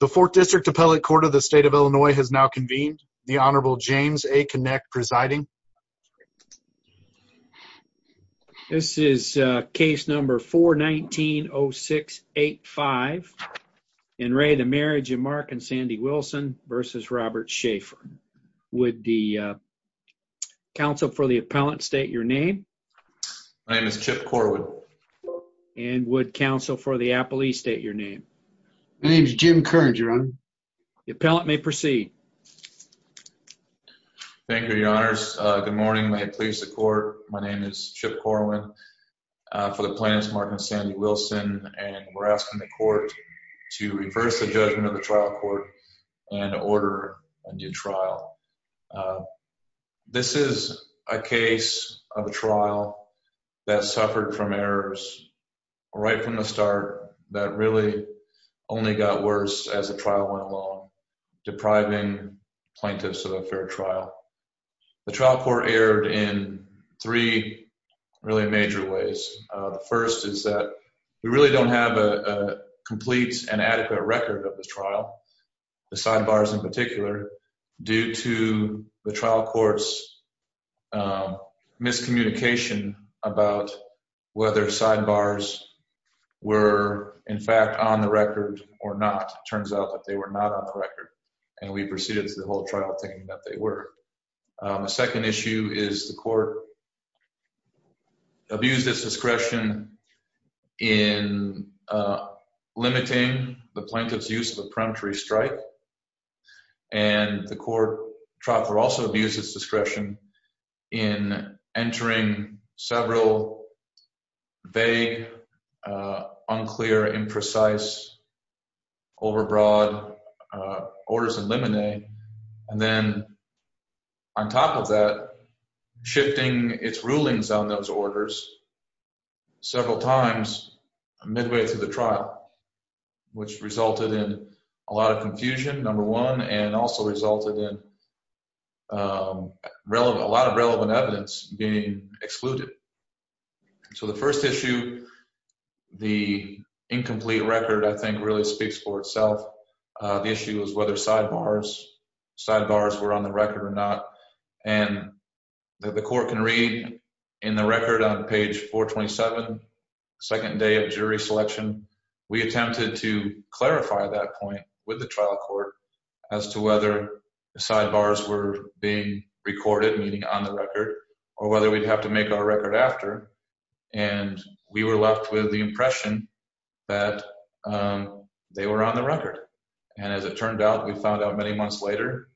The Fourth District Appellate Court of the State of Illinois has now convened. The Honorable James A. Connick presiding. This is case number 419-0685. In re the marriage of Mark and Sandy Wilson versus Robert Schaefer. Would the counsel for the appellant state your name? My name is Chip Corwin. And would counsel for the appellee state your name? My name is Jim Kern, Your Honor. The appellant may proceed. Thank you, Your Honors. Good morning. May it please the court. My name is Chip Corwin. For the plaintiffs, Mark and Sandy Wilson, and we're asking the court to reverse the judgment of the trial court and order a new trial. This is a case of a trial that suffered from errors right from the start that really only got worse as the trial went along, depriving plaintiffs of a fair trial. The trial court erred in three really major ways. The first is that we really don't have a complete and adequate record of the trial, the sidebars in particular, due to the trial court's miscommunication about whether sidebars were, in fact, on the record or not. It turns out that they were not on the record, and we proceeded to the whole trial thinking that they were. The second issue is the court abused its discretion in limiting the plaintiff's use of a peremptory strike, and the court trial court also abused its discretion in entering several vague, unclear, imprecise, overbroad orders in limine, and then on top of that, shifting its rulings on those orders several times midway through the trial, which resulted in a lot of confusion, number one, and also resulted in a lot of relevant evidence being excluded. So the first issue, the incomplete record, I think, really speaks for itself. The issue is whether sidebars were on the record or not, and the court can read in the record on page 427, second day of jury selection, we attempted to clarify that point with the trial court as to whether the sidebars were being recorded, meaning on the record, or whether we'd have to make our record after, and we were left with the impression that they were on the record, and as it turned out, we found out many months later,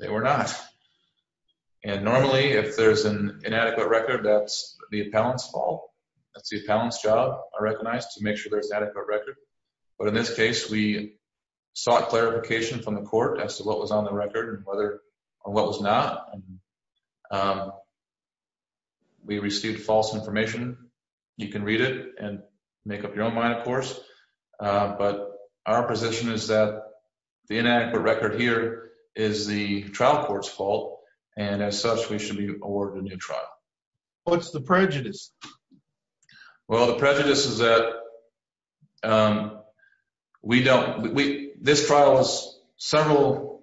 they were not, and normally, if there's an inadequate record, that's the appellant's fault. That's the appellant's job, I recognize, to make sure there's adequate record, but in this case, we sought clarification from the court as to what was on the record and whether or what was not, and we received false information. You can read it and make up your own mind, of course, but our position is that the inadequate record here is the trial court's fault, and as such, we should be awarded a new trial. What's the prejudice? Well, the prejudice is that we don't, we, this trial is several,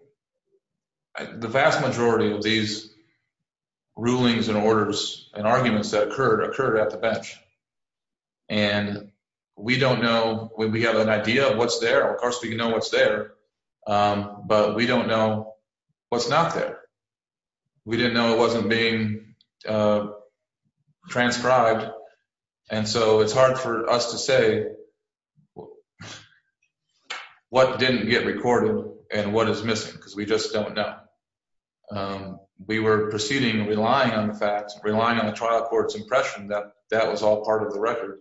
the vast majority of these we don't know. We have an idea of what's there. Of course, we know what's there, but we don't know what's not there. We didn't know it wasn't being transcribed, and so it's hard for us to say what didn't get recorded and what is missing because we just don't know. We were proceeding, relying on the facts, relying on the trial court's impression that that was all part of the record,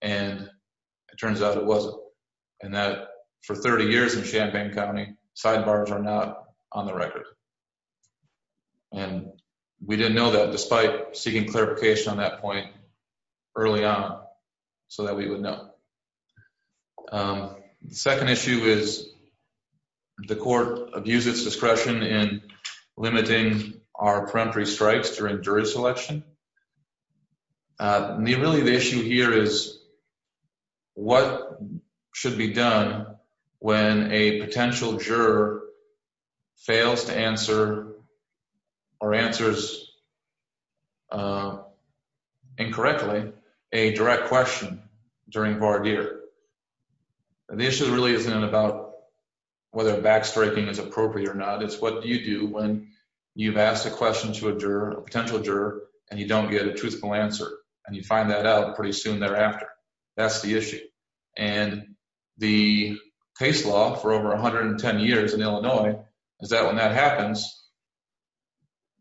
and it turns out it wasn't, and that for 30 years in Champaign County, sidebars are not on the record, and we didn't know that despite seeking clarification on that point early on so that we would know. The second issue is the court abused its discretion in really the issue here is what should be done when a potential juror fails to answer or answers incorrectly a direct question during voir dire. The issue really isn't about whether backstriking is appropriate or not. It's what do you do when you've asked a question to a juror, a potential answer, and you find that out pretty soon thereafter. That's the issue, and the case law for over 110 years in Illinois is that when that happens,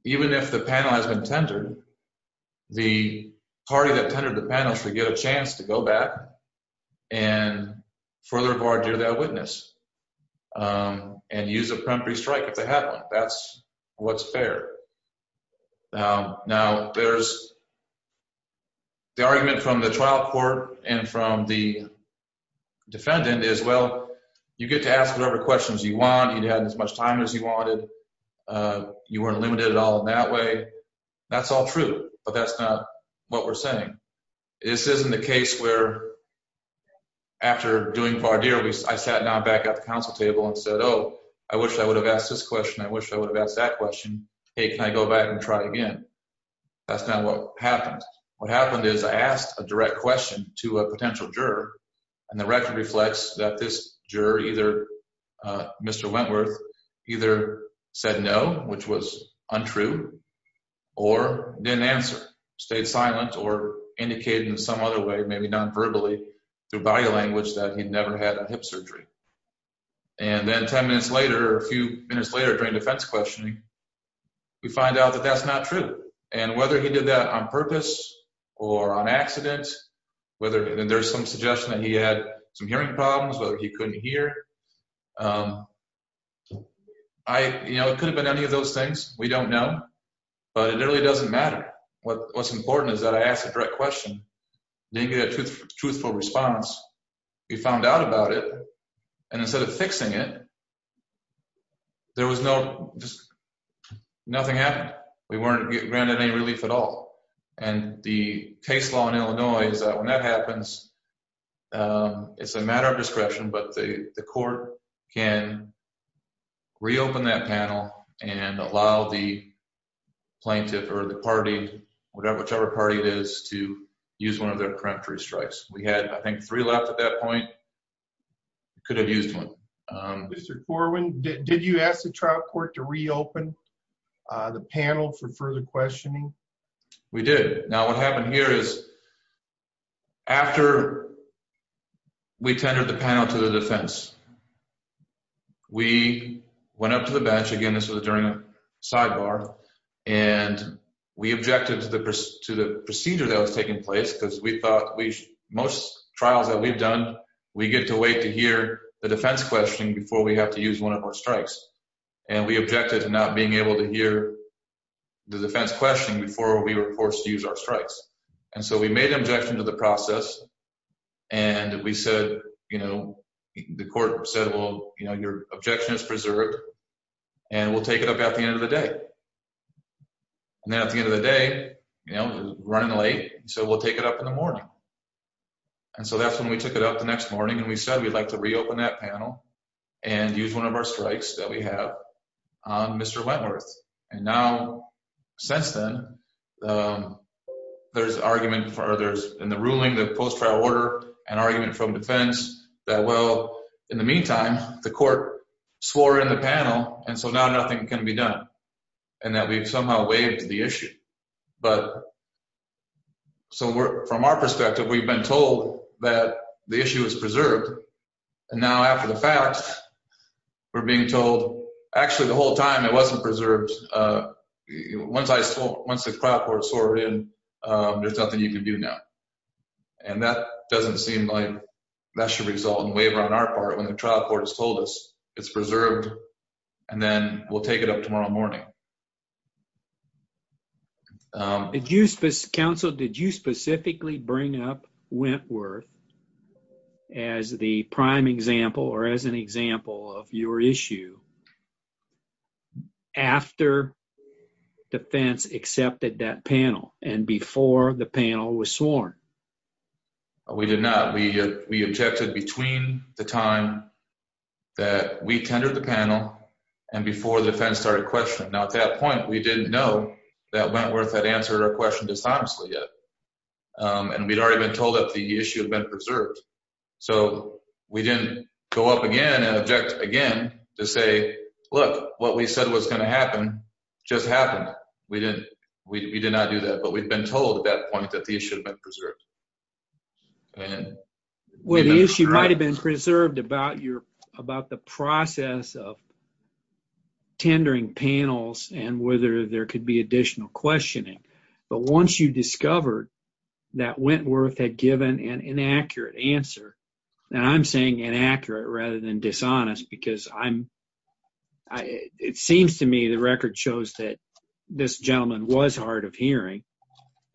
even if the panel has been tendered, the party that tendered the panel should get a chance to go back and further voir dire that the argument from the trial court and from the defendant is, well, you get to ask whatever questions you want. You had as much time as you wanted. You weren't limited at all in that way. That's all true, but that's not what we're saying. This isn't the case where after doing voir dire, I sat down back at the council table and said, oh, I wish I would have asked this question. I wish I would have asked that question. Hey, can I go back and try again? That's not what happened. What happened is I asked a direct question to a potential juror, and the record reflects that this juror, either Mr. Wentworth, either said no, which was untrue, or didn't answer, stayed silent, or indicated in some other way, maybe non-verbally through body language, that he never had a hip surgery. And then 10 minutes later, a few minutes later during defense questioning, we find out that that's not true. And whether he did that on purpose or on accident, and there's some suggestion that he had some hearing problems, whether he couldn't hear, it could have been any of those things. We don't know, but it really doesn't matter. What's important is that I asked a direct question, didn't get a truthful response. We found out about it, and instead of fixing it, nothing happened. We weren't granted any relief at all. And the case law in Illinois is that when that happens, it's a matter of discretion, but the court can reopen that panel and allow the plaintiff or the party, whichever strikes. We had, I think, three left at that point. We could have used one. Mr. Corwin, did you ask the trial court to reopen the panel for further questioning? We did. Now, what happened here is after we tendered the panel to the defense, we went up to the bench again, this was during a sidebar, and we objected to the procedure that was taking place because we thought most trials that we've done, we get to wait to hear the defense questioning before we have to use one of our strikes. And we objected to not being able to hear the defense questioning before we were forced to use our strikes. And so we made an objection to the process, and we said, the court said, well, your objection is preserved, and we'll take it up at the end of the day. And then at the end of the day, you know, running late, so we'll take it up in the morning. And so that's when we took it up the next morning, and we said we'd like to reopen that panel and use one of our strikes that we have on Mr. Wentworth. And now, since then, there's argument for others in the ruling, the post-trial order, an argument from defense that, well, in the meantime, the court swore in the panel, and so now nothing can be done, and that we've somehow waived the issue. So from our perspective, we've been told that the issue is preserved, and now after the fact, we're being told, actually, the whole time it wasn't preserved. Once the trial court swore in, there's nothing you can do now. And that doesn't seem like that should result in a waiver on our part when the trial court has told us it's preserved, and then we'll take it up tomorrow morning. Counsel, did you specifically bring up Wentworth as the prime example or as an example of your issue after defense accepted that panel and before the panel was sworn? We did not. We objected between the time that we tendered the panel and before the defense started questioning. Now, at that point, we didn't know that Wentworth had answered our question dishonestly yet, and we'd already been told that the issue had been preserved. So we didn't go up again and object again to say, look, what we said was going to happen just happened. We did not do that, but we'd been told at that point that the issue had been preserved. Well, the issue might have been preserved about the process of tendering panels and whether there could be additional questioning, but once you discovered that Wentworth had given an inaccurate answer, and I'm saying inaccurate rather than dishonest because it seems to me the record shows that this gentleman was hard of hearing,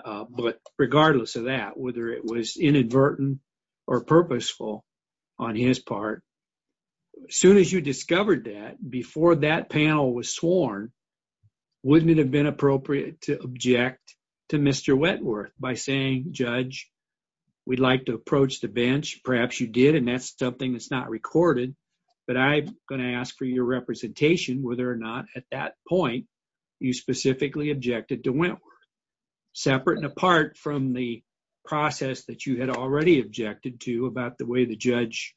but regardless of that, whether it was inadvertent or purposeful on his part, as soon as you discovered that before that panel was sworn, wouldn't it have been appropriate to object to Mr. Wentworth by saying, Judge, we'd like to approach the bench? Perhaps you did, and that's something that's not recorded, but I'm going to ask for your representation whether or not at that point you specifically objected to Wentworth, separate and apart from the process that you had already objected to about the way the judge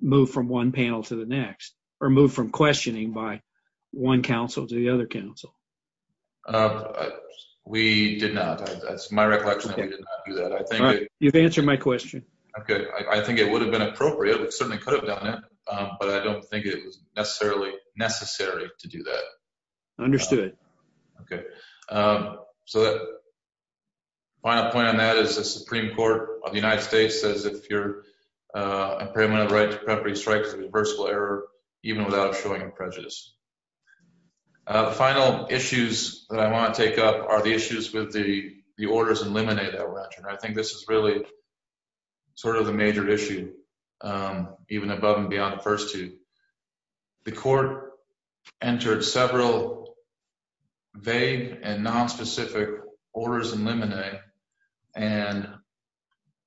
moved from one panel to the next or moved from questioning by one counsel to the other counsel. We did not. That's my recollection. You've answered my question. Okay. I think it would have been appropriate. We certainly could have done it, but I don't think it was necessarily necessary to do that. Understood. Okay. So the final point on that is the Supreme Court of the United States says if you're impairment of right to property strikes a reversible error, even without showing prejudice. The final issues that I want to take up are the issues with the orders in limine that were entered. I think this is really sort of the major issue, even above and beyond the first two. The court entered several vague and nonspecific orders in limine and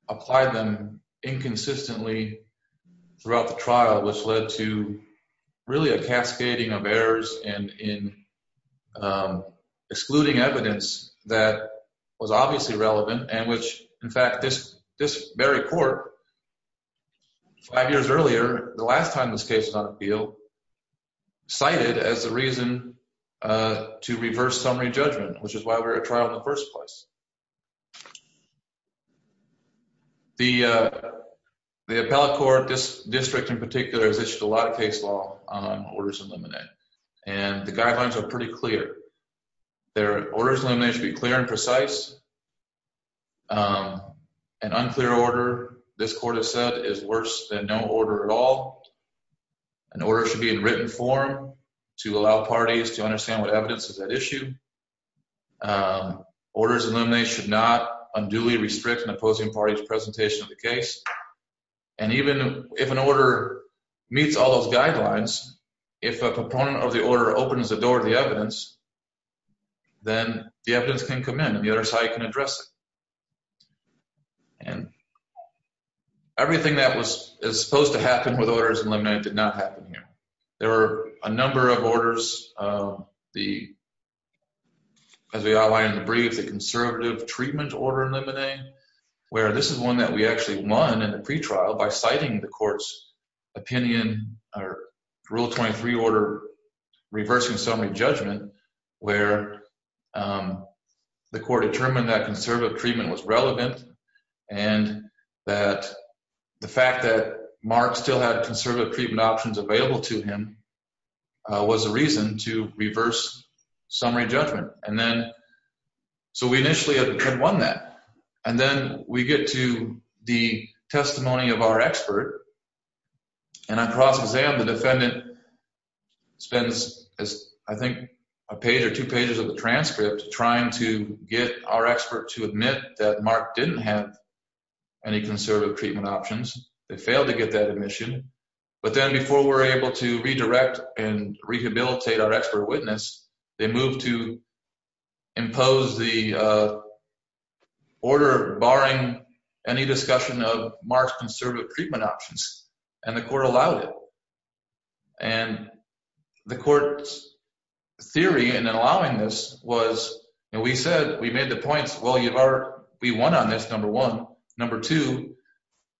applied them inconsistently throughout the trial, which led to really a cascading of errors and in excluding evidence that was obviously relevant and which, in fact, this very court five years earlier, the last time this case is on the field, cited as the reason to reverse summary judgment, which is why we're at trial in the first place. The appellate court, this district in particular, has issued a lot of case law on orders in limine and the guidelines are pretty clear. Their orders in limine should be clear and is worse than no order at all. An order should be in written form to allow parties to understand what evidence is at issue. Orders in limine should not unduly restrict an opposing party's presentation of the case. And even if an order meets all those guidelines, if a proponent of the order opens the door to the evidence, then the evidence can come in and the other side can everything that was supposed to happen with orders in limine did not happen here. There were a number of orders. As we outlined in the brief, the conservative treatment order in limine, where this is one that we actually won in the pretrial by citing the court's opinion or rule 23 order reversing summary judgment, where the court determined that the fact that Mark still had conservative treatment options available to him was a reason to reverse summary judgment. And then, so we initially had won that. And then we get to the testimony of our expert. And on cross-exam, the defendant spends, I think, a page or two pages of the transcript trying to get our expert to admit that Mark didn't have any conservative treatment options. They failed to get that admission. But then before we're able to redirect and rehabilitate our expert witness, they move to impose the order barring any discussion of Mark's conservative treatment options. And the court allowed it. And the court's theory in allowing this was, and we said, we made the points, well, we won on this, number one. Number two,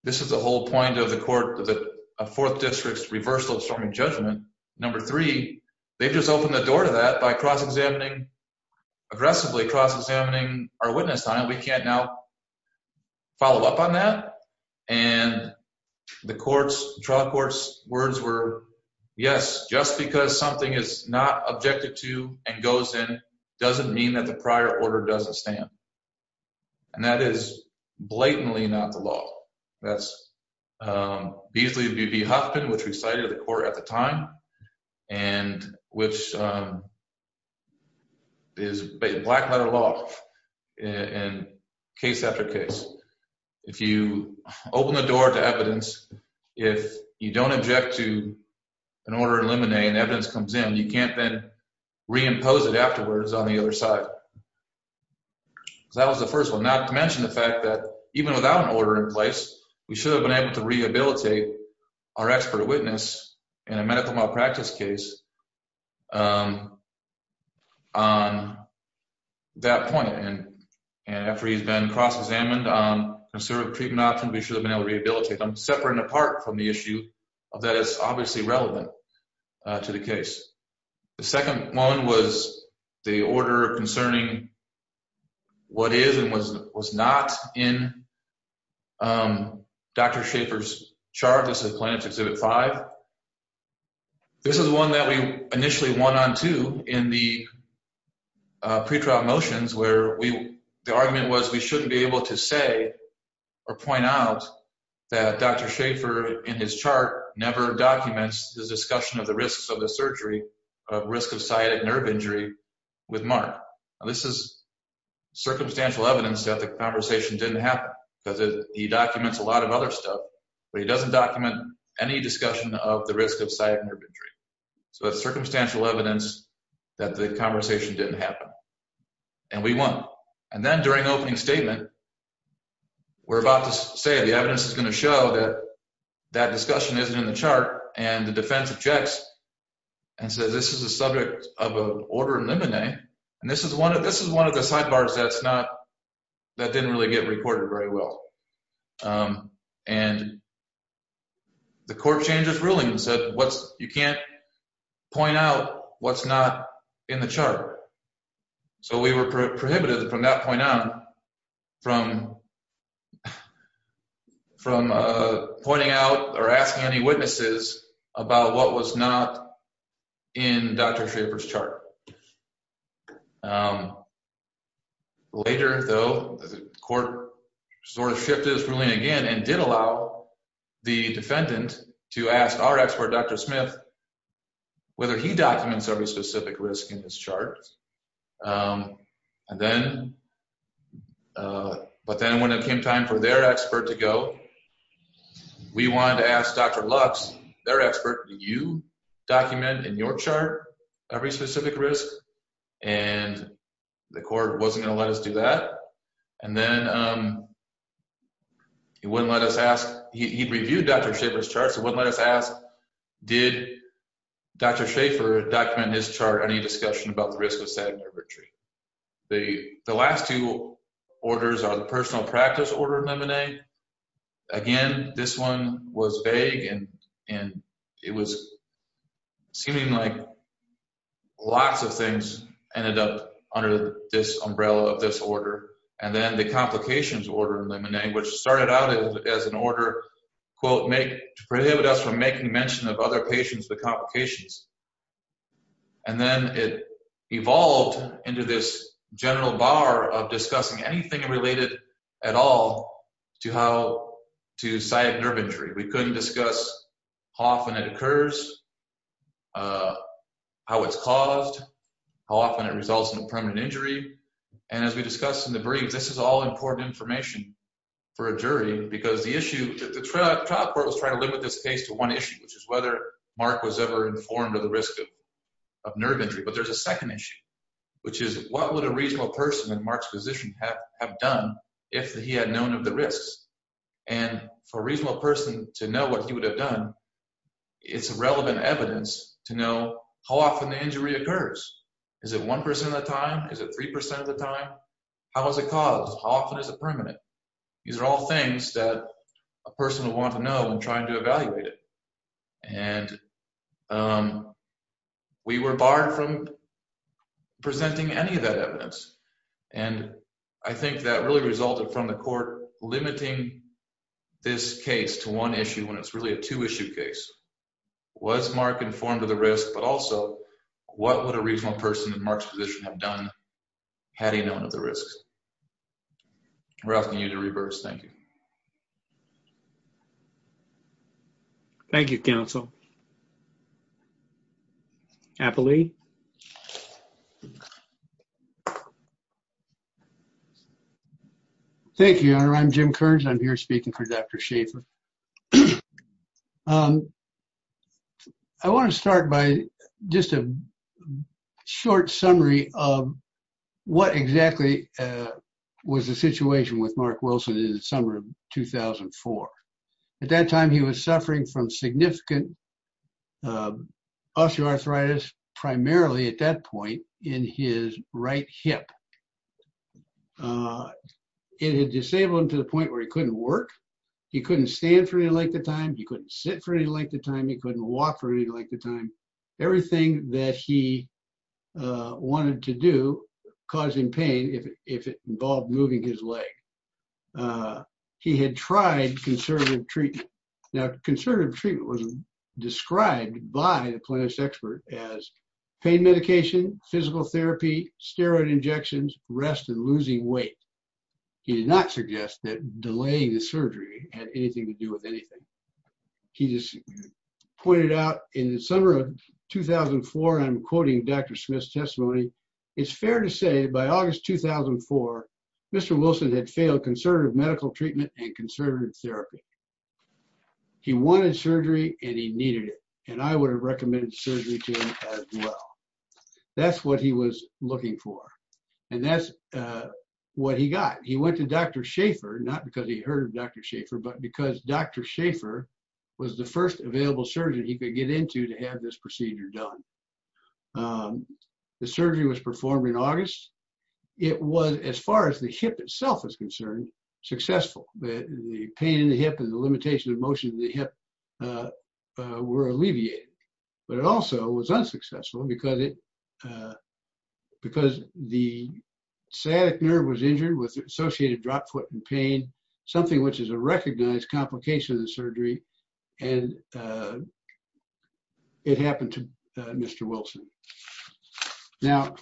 this is the whole point of the fourth district's reversal of summary judgment. Number three, they've just opened the door to that by cross-examining, aggressively cross-examining our witness time. We can't now follow up on that. And the trial court's words were, yes, just because something is not ordered doesn't stand. And that is blatantly not the law. That's Beasley v. B. Huffman, which we cited at the court at the time, and which is black letter law in case after case. If you open the door to evidence, if you don't object to an order in limine and evidence comes in, you can't then reimpose it afterwards on the other side. So that was the first one. Not to mention the fact that even without an order in place, we should have been able to rehabilitate our expert witness in a medical malpractice case on that point. And after he's been cross-examined on conservative treatment options, we should have been able to rehabilitate separate and apart from the issue that is obviously relevant to the case. The second one was the order concerning what is and was not in Dr. Schaffer's chart. This is plaintiff's Exhibit 5. This is one that we initially won on to in the pre-trial motions, the argument was we shouldn't be able to say or point out that Dr. Schaffer in his chart never documents the discussion of the risks of the surgery, of risk of sciatic nerve injury with Mark. This is circumstantial evidence that the conversation didn't happen because he documents a lot of other stuff, but he doesn't document any discussion of the risk of sciatic nerve injury. So that's circumstantial evidence that the conversation didn't happen, and we won. And then during opening statement, we're about to say the evidence is going to show that that discussion isn't in the chart, and the defense objects and says this is the subject of an order in limine, and this is one of the sidebars that didn't really get recorded very well. And the court changes ruling and said you can't point out what's not in the chart. So we were prohibited from that point on from pointing out or asking any witnesses about what was not in Dr. Schaffer's chart. Later though, the court sort of shifted its ruling again and did allow the defendant to ask our expert Dr. Smith whether he documents every specific risk in this chart. But then when it time for their expert to go, we wanted to ask Dr. Lux, their expert, do you document in your chart every specific risk? And the court wasn't going to let us do that. And then he wouldn't let us ask. He reviewed Dr. Schaffer's chart, so he wouldn't let us ask did Dr. Schaffer document his chart, any discussion about the risk of sciatic nerve injury. The last two orders are personal practice order in limine. Again, this one was vague and it was seeming like lots of things ended up under this umbrella of this order. And then the complications order in limine, which started out as an order, quote, to prohibit us from making mention of other patients with complications. And then it evolved into this general bar of discussing anything related at all to how to sciatic nerve injury. We couldn't discuss how often it occurs, how it's caused, how often it results in a permanent injury. And as we discussed in the brief, this is all important information for a jury because the issue that the trial court was trying to limit this case to one issue, which is whether Mark was ever informed of the risk of nerve injury. But there's a second issue, which is what would a reasonable person in Mark's position have done if he had known of the risks? And for a reasonable person to know what he would have done, it's relevant evidence to know how often the injury occurs. Is it 1% of the time? Is it 3% of the time? How is it caused? How often is it permanent? These are all things that a person would want to know when trying to evaluate it. And we were barred from presenting any of that evidence. And I think that really resulted from the court limiting this case to one issue when it's really a two-issue case. Was Mark informed of the risk, but also what would a reasonable person in Mark's position have done had he known of the risks? Thank you, counsel. Apple Lee. Thank you, Your Honor. I'm Jim Kearns. I'm here speaking for Dr. Schaffer. I want to start by just a short summary of what exactly was the situation with Mark Wilson in the summer of 2004. At that time, he was suffering from significant osteoarthritis, primarily at that point in his right hip. It had disabled him to the point where he couldn't work. He couldn't stand for any length of time. He couldn't sit for any length of time. He couldn't walk for any length of time. Everything that he wanted to do caused him pain if it involved moving his leg. He had tried conservative treatment. Now, conservative treatment was described by the plaintiff's expert as pain medication, physical therapy, steroid injections, rest, and losing weight. He did not suggest that delaying the surgery had anything to do with anything. He just pointed out in the summer of 2004, and I'm quoting Dr. Smith's testimony, it's fair to say by August 2004, Mr. Wilson had failed conservative medical treatment and conservative therapy. He wanted surgery and he needed it. I would have recommended surgery to him as well. That's what he was looking for. That's what he got. He went to Dr. Schaffer, not because he heard of Dr. Schaffer, but because Dr. Schaffer was the first available surgeon he could get into to have this procedure done. The surgery was performed in August. It was, as far as the hip itself is concerned, successful. The pain in the hip and the limitation of motion of the hip were alleviated, but it also was unsuccessful because the sciatic nerve was injured with associated drop foot and pain, something which is a recognized complication of the surgery, and it happened to Mr. Wilson. Now,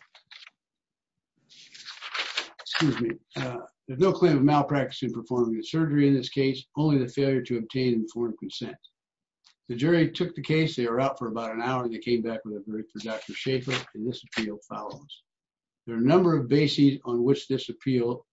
excuse me, there's no claim of malpractice in performing the surgery in this case, only the failure to obtain informed consent. The jury took the case. They were out for about an hour. They came back with a verdict for Dr. Schaffer, and this appeal follows. There are a number of bases on which this appeal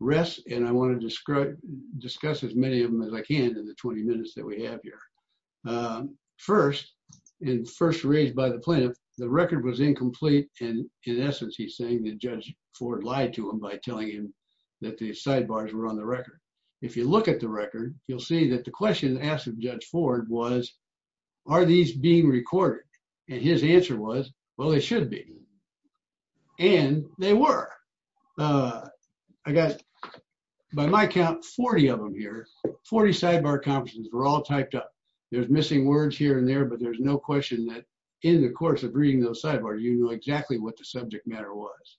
rests, and I want to discuss as many of them as I can in the 20 minutes that we have here. First, and first raised by the plaintiff, the record was incomplete, and in essence, he's saying that Judge Ford lied to him by telling him that the sidebars were on the record. If you look at the record, you'll see that the question asked of Judge Ford was, are these being recorded? His answer was, well, they should be, and they were. I got, by my count, 40 of them here. Forty sidebar conferences were all typed up. There's missing words here and there, but there's no question that in the course of reading those sidebars, you know exactly what the subject matter was.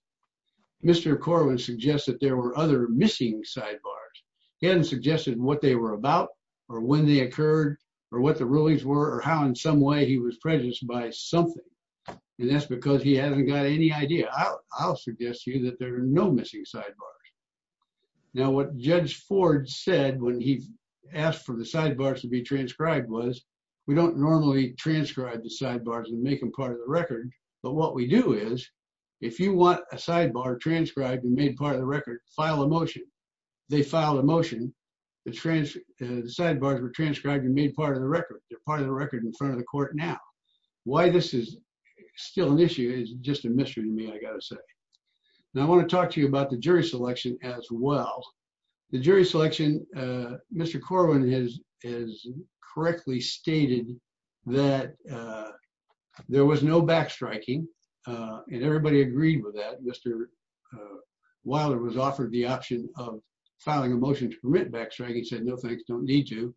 Mr. Corwin suggests that there were other missing sidebars. He hadn't suggested what they were about or when they occurred or what the rulings were or how in some way he was prejudiced by something, and that's because he hasn't got any idea. I'll suggest to you that there are no missing sidebars. Now, what Judge Ford said when he asked for the sidebars to be transcribed was, we don't normally transcribe the sidebars and make them part of the record, but what we do is, if you want a sidebar transcribed and made part of the record, file a motion. They filed a motion. The sidebars were transcribed and made part of the record. They're part of the record now. Why this is still an issue is just a mystery to me, I got to say. Now, I want to talk to you about the jury selection as well. The jury selection, Mr. Corwin has correctly stated that there was no backstriking, and everybody agreed with that. Mr. Wilder was offered the option of filing a motion to permit backstriking. He said, no thanks, don't need to,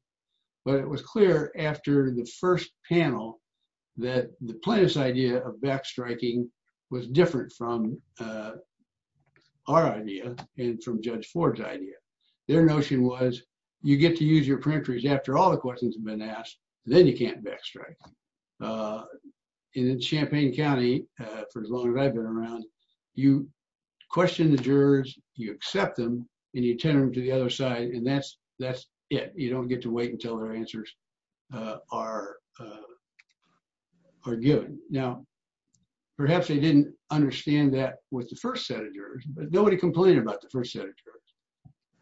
but it was clear after the first panel that the plaintiff's idea of backstriking was different from our idea and from Judge Ford's idea. Their notion was, you get to use your peremptories after all the questions have been asked, then you can't backstrike. In Champaign County, for as long as I've been around, you question the jurors, you accept them, and you turn them to the other side, and that's it. You don't get to wait until their answers are given. Now, perhaps they didn't understand that with the first set of jurors, but nobody complained about the first set of jurors.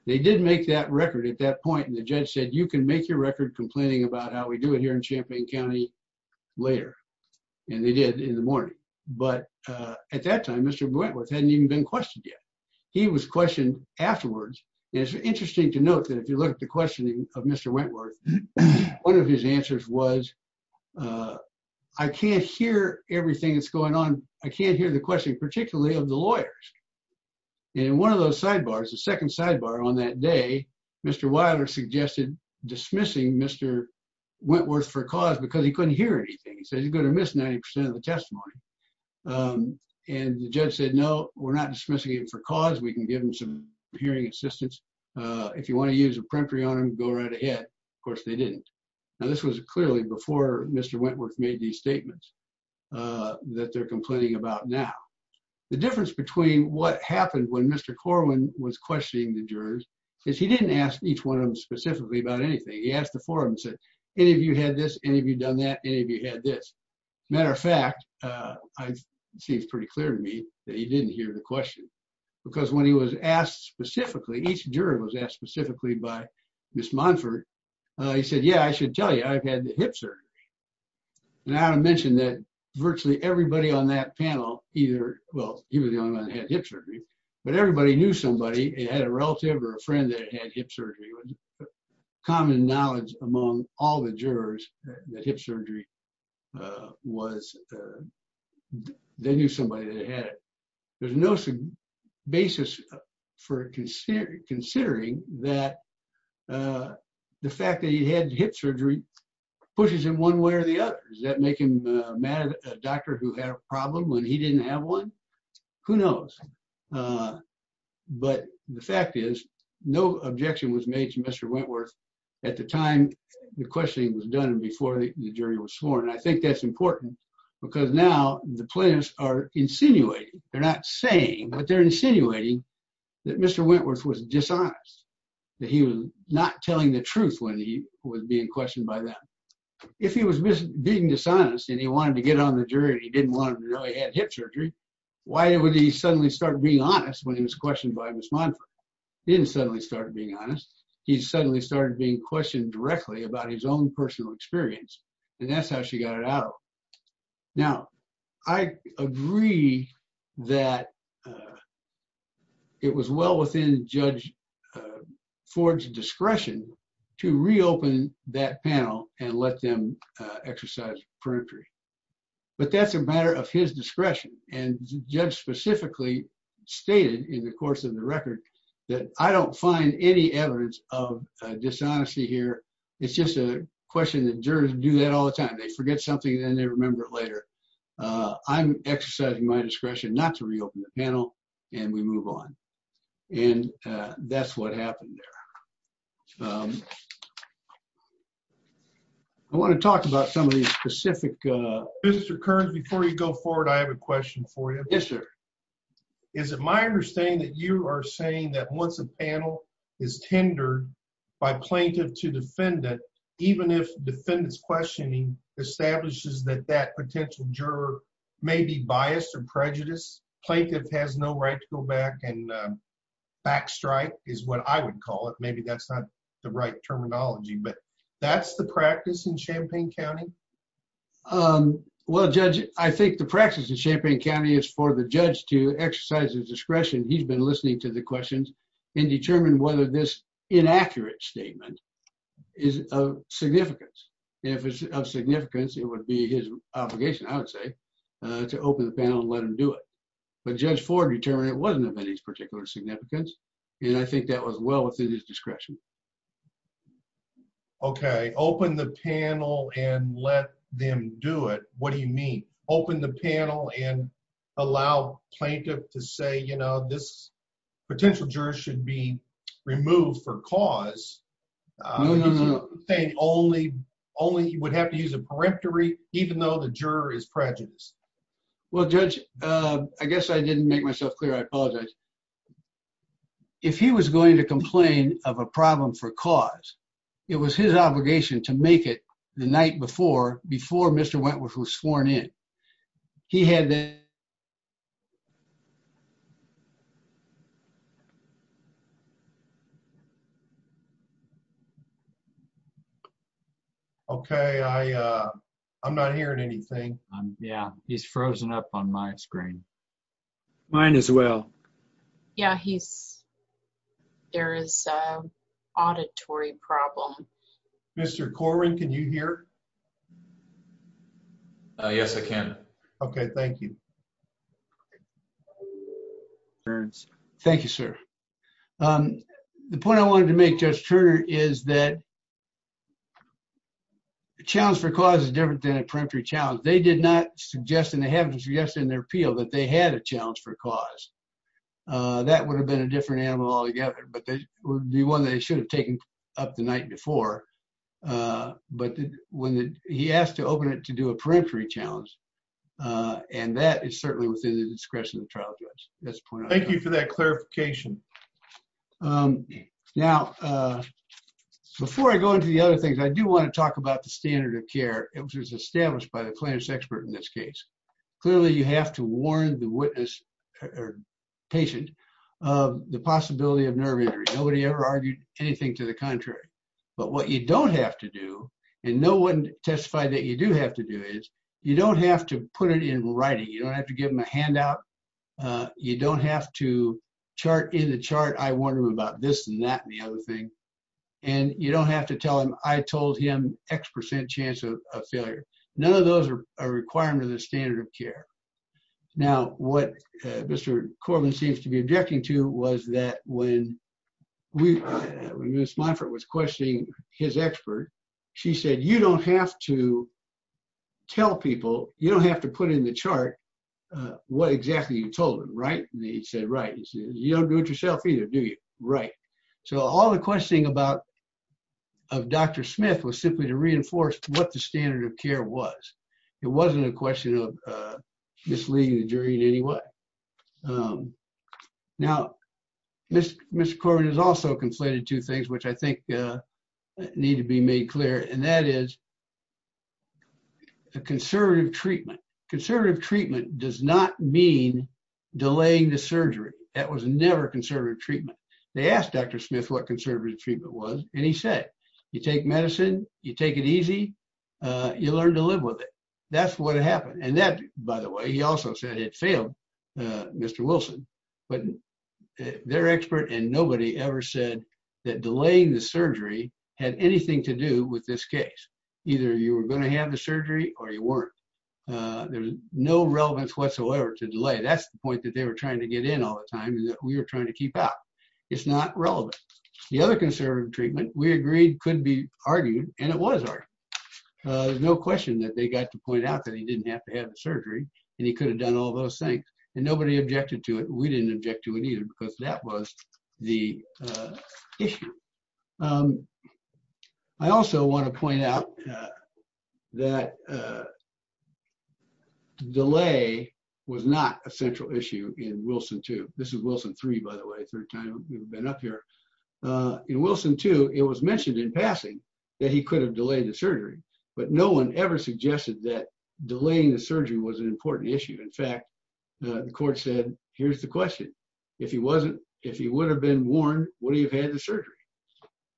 They did make that record at that point, and the judge said, you can make your record complaining about how we do it here in Champaign County later, and they did in the morning. But at that time, Mr. Wentworth hadn't even been questioned yet. He was questioned afterwards, and it's interesting to note that if you look at the questioning of Mr. Wentworth, one of his answers was, I can't hear everything that's going on. I can't hear the question particularly of the lawyers. And in one of those sidebars, the second sidebar on that day, Mr. Wilder suggested dismissing Mr. Wentworth for cause because he couldn't hear anything. He missed 90% of the testimony, and the judge said, no, we're not dismissing him for cause. We can give him some hearing assistance. If you want to use a peremptory on him, go right ahead. Of course, they didn't. Now, this was clearly before Mr. Wentworth made these statements that they're complaining about now. The difference between what happened when Mr. Corwin was questioning the jurors is he didn't ask each one of them specifically about anything. He asked the four and said, any of you had this? Any of you done that? Any of you had this? Matter of fact, it seems pretty clear to me that he didn't hear the question because when he was asked specifically, each juror was asked specifically by Ms. Monfort, he said, yeah, I should tell you, I've had the hip surgery. And I want to mention that virtually everybody on that panel either, well, he was the only one that had hip surgery, but everybody knew somebody, it had a relative or a friend that had hip surgery. Common knowledge among all the jurors that hip surgery was, they knew somebody that had it. There's no basis for considering that the fact that he had hip surgery pushes him one way or the other. Does that make him a doctor who had a problem when he didn't have one? Who knows? But the fact is, no objection was made to Mr. Wentworth at the time the questioning was done and before the jury was sworn. And I think that's important because now the plaintiffs are insinuating. They're not saying, but they're insinuating that Mr. Wentworth was dishonest, that he was not telling the truth when he was being questioned by them. If he was being dishonest and he wanted to get on the jury, he didn't want him to know he had hip surgery. Why would he suddenly start being honest when he was questioned by Ms. Monfort? He didn't suddenly start being honest. He suddenly started being questioned directly about his own personal experience. And that's how she got it out. Now, I agree that it was well within Judge Ford's discretion to reopen that panel and let them exercise peremptory. But that's a matter of his discretion. And Judge specifically stated in the course of the record that I don't find any evidence of dishonesty here. It's just a time. They forget something and then they remember it later. I'm exercising my discretion not to reopen the panel and we move on. And that's what happened there. I want to talk about some of these specific... Mr. Kearns, before you go forward, I have a question for you. Yes, sir. Is it my understanding that you are saying that once a panel is tendered by plaintiff to defendant, even if defendant's questioning establishes that that potential juror may be biased or prejudiced, plaintiff has no right to go back and backstrike is what I would call it. Maybe that's not the right terminology, but that's the practice in Champaign County? Well, Judge, I think the practice in Champaign County is for the judge to exercise his discretion. He's been listening to the questions and determine whether this inaccurate statement is of significance. And if it's of significance, it would be his obligation, I would say, to open the panel and let him do it. But Judge Ford determined it wasn't of any particular significance. And I think that was well within his discretion. Okay. Open the panel and let them do it. What do you mean? Open the panel and allow plaintiff to say, you know, this potential juror should be removed for cause? No, no, no. Saying only he would have to use a peremptory, even though the juror is prejudiced? Well, Judge, I guess I didn't make myself clear. I apologize. If he was going to complain of a problem for cause, it was his obligation to make it the statement. He had the ______. Okay. I'm not hearing anything. Yeah. He's frozen up on my screen. Mine as well. Yeah. There is an auditory problem. Mr. Corwin, can you hear? Yes, I can. Okay. Thank you. Thank you, sir. The point I wanted to make, Judge Turner, is that the challenge for cause is different than a peremptory challenge. They did not suggest, and they haven't suggested in their appeal, that they had a challenge for cause. That would have been a different animal altogether. But it would be one they should have taken up the night before. But he asked to open it to do a peremptory challenge, and that is certainly within the discretion of the trial judge. That's the point I wanted to make. Thank you for that clarification. Now, before I go into the other things, I do want to talk about the standard of care, which was established by the plaintiff's expert in this case. Clearly, you have to warn the witness or patient of the possibility of nerve injury. Nobody ever argued anything to the contrary. But what you don't have to do, and no one testified that you do have to do, is you don't have to put it in writing. You don't have to give him a handout. You don't have to chart in the chart, I warned him about this and that and the other thing. And you don't have to tell him, I told him X percent chance of failure. None of those are requirements of the standard of care. Now, what Mr. Corwin seems to be objecting to was that when Ms. Monfort was questioning his expert, she said, you don't have to tell people, you don't have to put in the chart what exactly you told him, right? And he said, right. He said, you don't do it yourself either, do you? Right. So all the questioning about of Dr. Smith was simply to reinforce what the standard of care was. It wasn't a question of misleading the jury in any way. Now, Mr. Corwin has also conflated two things which I think need to be made clear, and that is a conservative treatment. Conservative treatment does not mean delaying the surgery. That was never conservative treatment. They asked Dr. Smith what conservative treatment was, and he said, you take medicine, you take it easy, you learn to live with it. That's what happened. And that, by the way, he also said it failed, Mr. Wilson, but their expert and nobody ever said that delaying the surgery had anything to do with this case. Either you were going to have the surgery or you weren't. There's no relevance whatsoever to delay. That's the point that they were trying to get in all the time and that we were trying to keep out. It's not relevant. The other conservative treatment we agreed could be argued, and it was argued. There's no question that they got to point out that he didn't have to have the surgery, and he could have done all those things, and nobody objected to it. We didn't object to it either because that was the issue. I also want to point out that the delay was not a central issue in Wilson 2. This is Wilson 3, by the way, third time we've been up here. In Wilson 2, it was mentioned in passing that he could have delayed the surgery, but no one ever suggested that delaying the surgery was an important issue. In fact, the court said, here's the question. If he wasn't, if he would have been warned, would he have had the surgery?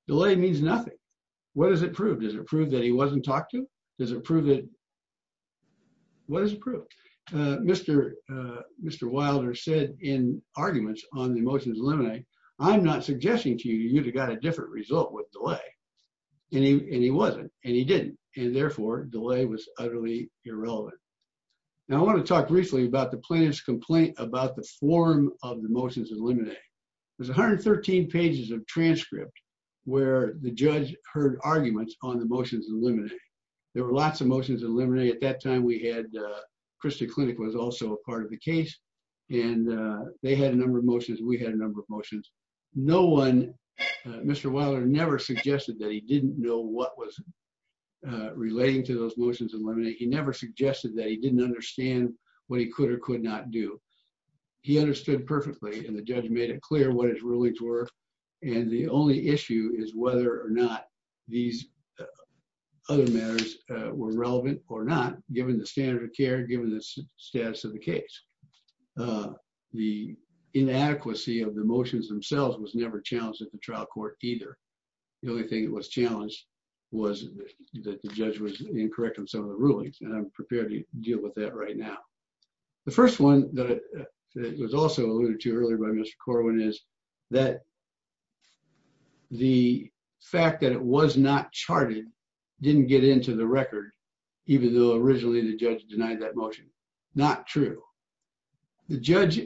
Delay means nothing. What does it prove? Does it prove that he wasn't talked to? Does it prove that, what does it prove? Mr. Wilder said in arguments on the motions eliminated, I'm not suggesting to you that you would have got a different result with delay. He wasn't, and he didn't. Therefore, delay was utterly irrelevant. Now, I want to talk briefly about the plaintiff's complaint about the form of the motions eliminated. There's 113 pages of transcript where the judge heard arguments on the motions eliminated. There were lots of motions eliminated at that time. Krista Clinic was also a part of the case and they had a number of motions. We had a number of motions. Mr. Wilder never suggested that he didn't know what was relating to those motions eliminated. He never suggested that he didn't understand what he could or could not do. He understood perfectly and the judge made it clear what his rulings were. And the only issue is whether or not these other matters were relevant or not, given the standard of care, given the status of the case. The inadequacy of the motions themselves was never challenged at the trial court either. The only thing that was challenged was that the judge was incorrect on some of the rulings, and I'm prepared to deal with that right now. The first one that was also alluded to earlier by Mr. Corwin is that the fact that it was not charted didn't get into the record, even though originally the judge denied that motion. Not true. The judge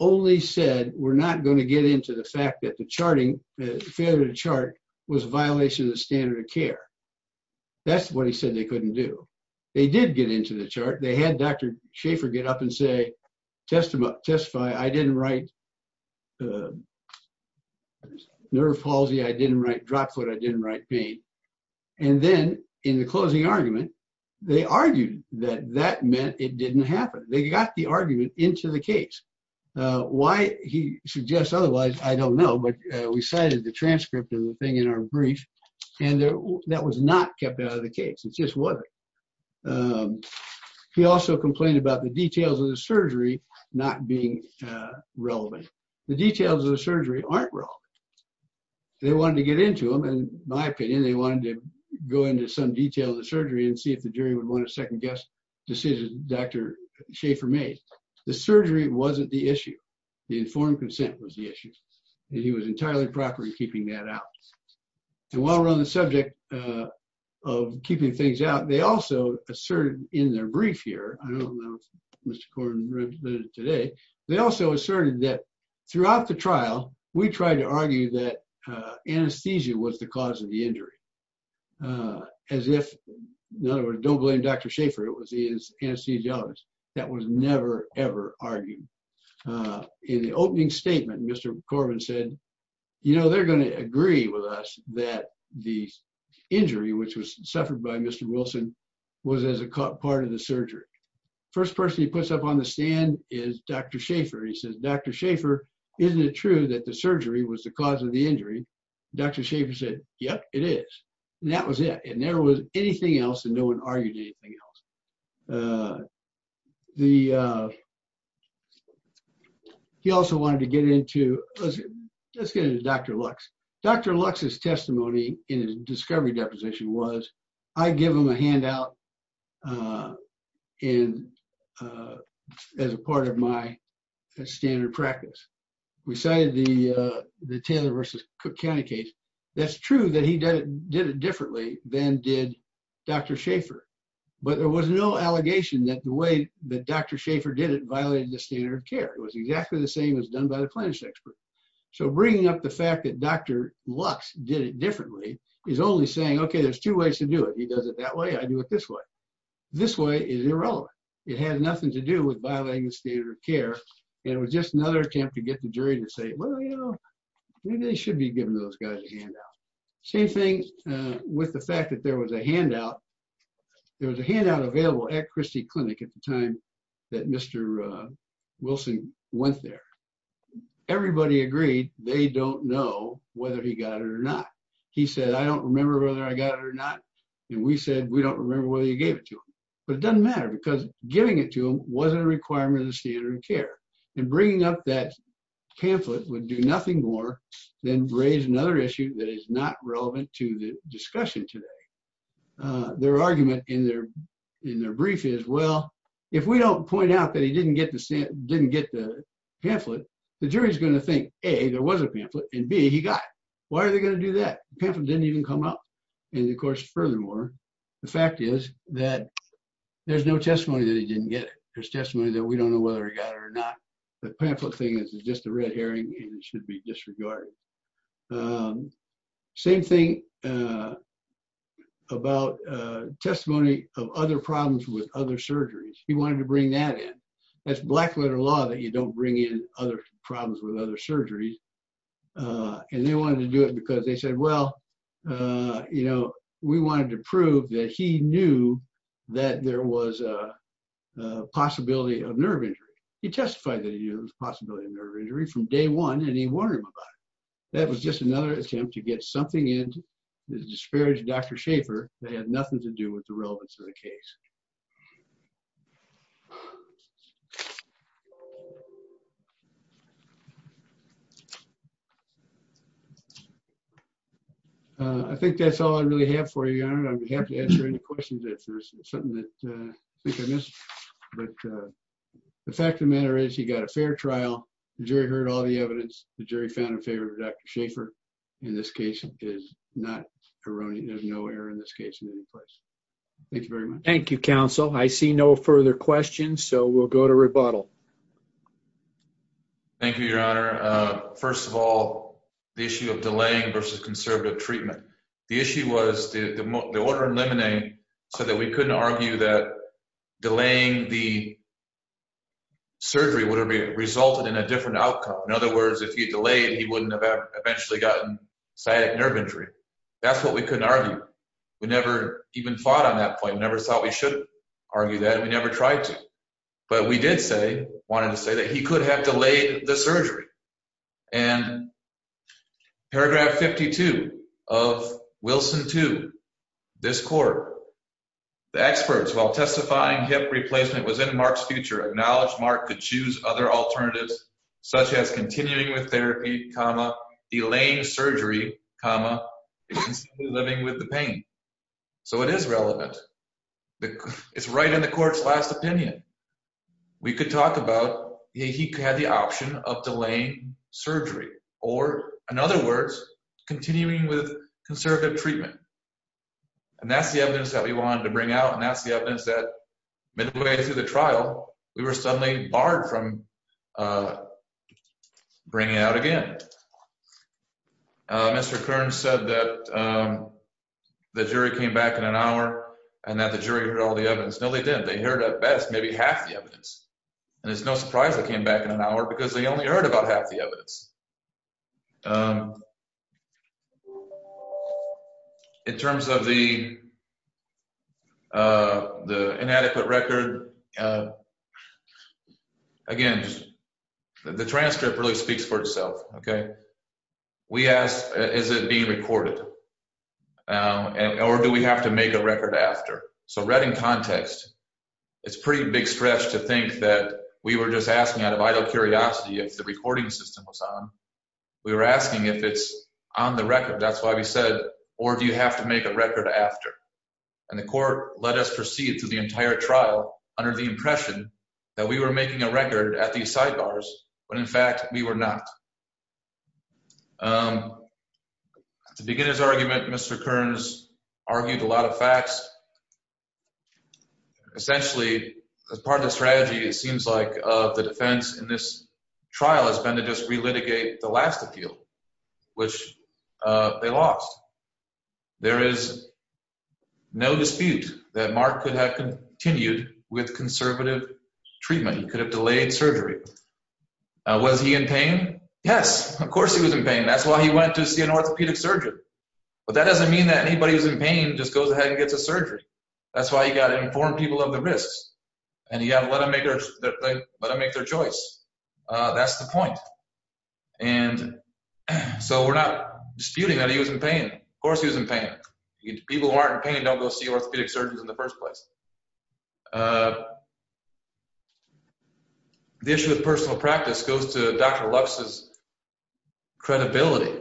only said we're not going to get into the fact that the charting, failure to chart was a violation of the standard of care. That's what he said they couldn't do. They did get into the chart. They had Dr. Schaefer get up and say, testify, I didn't write nerve palsy, I didn't write drop foot, I didn't write pain. And then in the closing argument, they argued that that meant it didn't happen. They got the argument into the case. Why he suggests otherwise, I don't know, but we cited the transcript of the thing in our brief, and that was not kept out of the case. It just wasn't. He also complained about the details of the surgery not being relevant. The details of the surgery aren't relevant. They wanted to get into them, and my opinion, they wanted to go into some detail of the surgery and see if the jury would want to second guess the decision Dr. Schaefer made. The surgery wasn't the issue. The informed consent was the issue. He was entirely proper in keeping that out. And while we're on the subject of keeping things out, they also asserted in their brief here, I don't know if Mr. Korn read it today, they also asserted that throughout the trial, we tried to argue that anesthesia was the cause of the injury. As if, in other words, don't blame Dr. Schaefer. It was his anesthesiologist. That was never, ever argued. In the opening statement, Mr. Corbin said, you know, they're going to agree with us that the injury, which was suffered by Mr. Wilson, was as a part of the surgery. First person he puts up on the stand is Dr. Schaefer. He says, Dr. Schaefer, isn't it true that the surgery was the cause of the injury? Dr. Schaefer said, yep, it is. That was it. It never was anything else and no one argued anything else. He also wanted to get into, let's get into Dr. Lux. Dr. Lux's testimony in his discovery deposition was, I give him a handout as a part of my standard practice. We cited the did it differently than did Dr. Schaefer, but there was no allegation that the way that Dr. Schaefer did it violated the standard of care. It was exactly the same as done by the plaintiff's expert. So bringing up the fact that Dr. Lux did it differently is only saying, okay, there's two ways to do it. He does it that way, I do it this way. This way is irrelevant. It had nothing to do with violating the standard of care and it was just another attempt to get the jury to say, you know, maybe they should be giving those guys a handout. Same thing with the fact that there was a handout. There was a handout available at Christie Clinic at the time that Mr. Wilson went there. Everybody agreed they don't know whether he got it or not. He said, I don't remember whether I got it or not. And we said, we don't remember whether you gave it to him, but it doesn't matter because giving it to him wasn't a requirement of the standard of care. And bringing up that pamphlet would do nothing more than raise another issue that is not relevant to the discussion today. Their argument in their brief is, well, if we don't point out that he didn't get the pamphlet, the jury is going to think, A, there was a pamphlet and B, he got it. Why are they going to do that? The pamphlet didn't even come up. And of course, furthermore, the fact is that there's no testimony that he didn't get it. There's testimony that we don't know whether he got it or not. The pamphlet thing is just a red herring and it should be disregarded. Same thing about testimony of other problems with other surgeries. He wanted to bring that in. That's black letter law that you don't bring in other problems with other surgeries. And they wanted to do it because they said, well, you know, we wanted to prove that he knew that there was a possibility of nerve injury. He testified that he knew there was a possibility of nerve injury from day one and he warned them about it. That was just another attempt to get something in to disparage Dr. Schaffer that had nothing to do with the relevance of the case. I think that's all I really have for you, Your Honor. I'd be happy to answer any questions if there's something that I think I missed. But the fact of the matter is he got a fair trial. The jury heard all the evidence. The jury found in favor of Dr. Schaffer. In this case, it is not erroneous. There's no error in this case in any place. Thank you very much. Thank you, counsel. I see no further questions, so we'll go to rebuttal. Thank you, Your Honor. First of all, the issue of delaying versus conservative treatment. The issue was the order in limine so that we couldn't argue that delaying the surgery would have resulted in a different outcome. In other words, if he delayed, he wouldn't have eventually gotten sciatic nerve injury. That's what we couldn't argue. We never even fought on that point. We never thought we should argue that. We never tried to. But we did say, wanted to say, that he could have delayed the surgery. And in paragraph 52 of Wilson 2, this court, the experts, while testifying hip replacement was in Mark's future, acknowledged Mark could choose other alternatives, such as continuing with therapy, comma, delaying surgery, comma, instead of living with the pain. So it is relevant. It's right in the court's last opinion. We could talk about he had the option of delaying continuing with conservative treatment. And that's the evidence that we wanted to bring out. And that's the evidence that midway through the trial, we were suddenly barred from bringing it out again. Mr. Kern said that the jury came back in an hour and that the jury heard all the evidence. No, they didn't. They heard at best maybe half the evidence. And it's no surprise they they only heard about half the evidence. In terms of the inadequate record, again, the transcript really speaks for itself, okay? We asked, is it being recorded? Or do we have to make a record after? So read in context, it's pretty big stretch to think that we were just asking out of idle curiosity if the recording system was on. We were asking if it's on the record. That's why we said, or do you have to make a record after? And the court let us proceed through the entire trial under the impression that we were making a record at these sidebars, when in fact we were not. To begin his argument, Mr. Kern's argued a lot of facts. Essentially, as part of the strategy, it seems like the defense in this trial has been to just relitigate the last appeal, which they lost. There is no dispute that Mark could have continued with conservative treatment. He could have delayed surgery. Was he in pain? Yes, of course he was in pain. That's why he went to see an orthopedic surgeon. But that doesn't mean that anybody who's in pain just goes ahead and gets a surgery. That's why you got to inform people of the risks and you have to let them make their choice. That's the point. And so we're not disputing that he was in pain. Of course he was in pain. People who aren't in pain don't go see orthopedic surgeons in the first place. The issue of personal practice goes to Dr. Lux's credibility.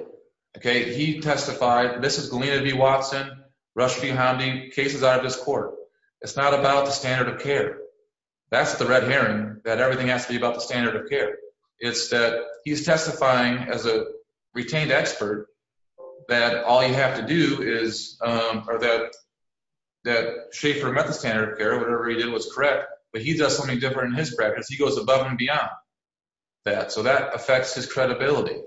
He testified, this is Galena V. Watson, Rush V. Hounding, cases out of this court. It's not about the standard of care. That's the red herring that everything has to be about the standard of care. It's that he's testifying as a retained expert that all you have to do is, or that Schaefer met the standard of care, whatever he did was correct. But he does something different in his practice. He goes above and beyond that. So that affects his credibility.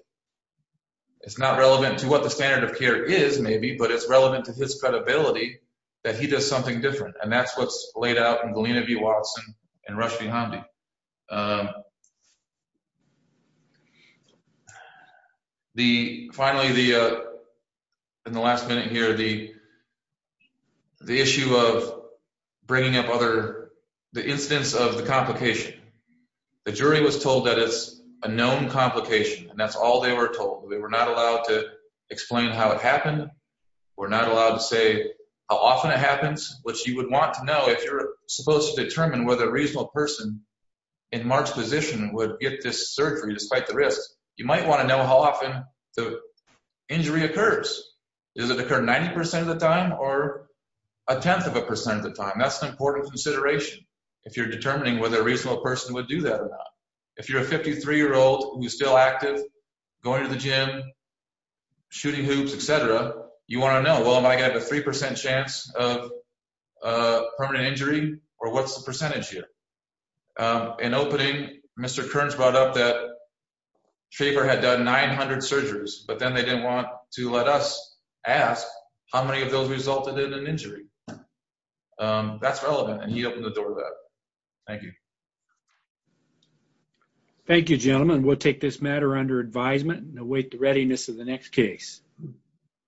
It's not relevant to what the standard of care is maybe, but it's relevant to his credibility that he does something different. And that's what's laid out in Galena V. Watson and Rush V. Hounding. Finally, in the last minute here, the issue of bringing up the instance of the complication. The jury was told that it's a known complication and that's all they were told. They were not allowed to explain how it happened. We're not allowed to say how often it happens, which you would want to know if you're supposed to determine whether a reasonable person in Mark's position would get this surgery despite the risks. You might want to know how often the injury occurs. Does it occur 90% of the time or a tenth of a percent of the time? That's an important consideration if you're determining whether a reasonable person would do that or not. If you're a 53-year-old who's still active, going to the gym, shooting hoops, etc., you want to know, well, am I going to have a 3% chance of permanent injury or what's the percentage here? In opening, Mr. Kearns brought up that Schaefer had done 900 surgeries, but then they didn't want to let us ask how many of those resulted in an injury. That's relevant and he opened the door to that. Thank you. Thank you, gentlemen. We'll take this matter under advisement and await the readiness of the next case.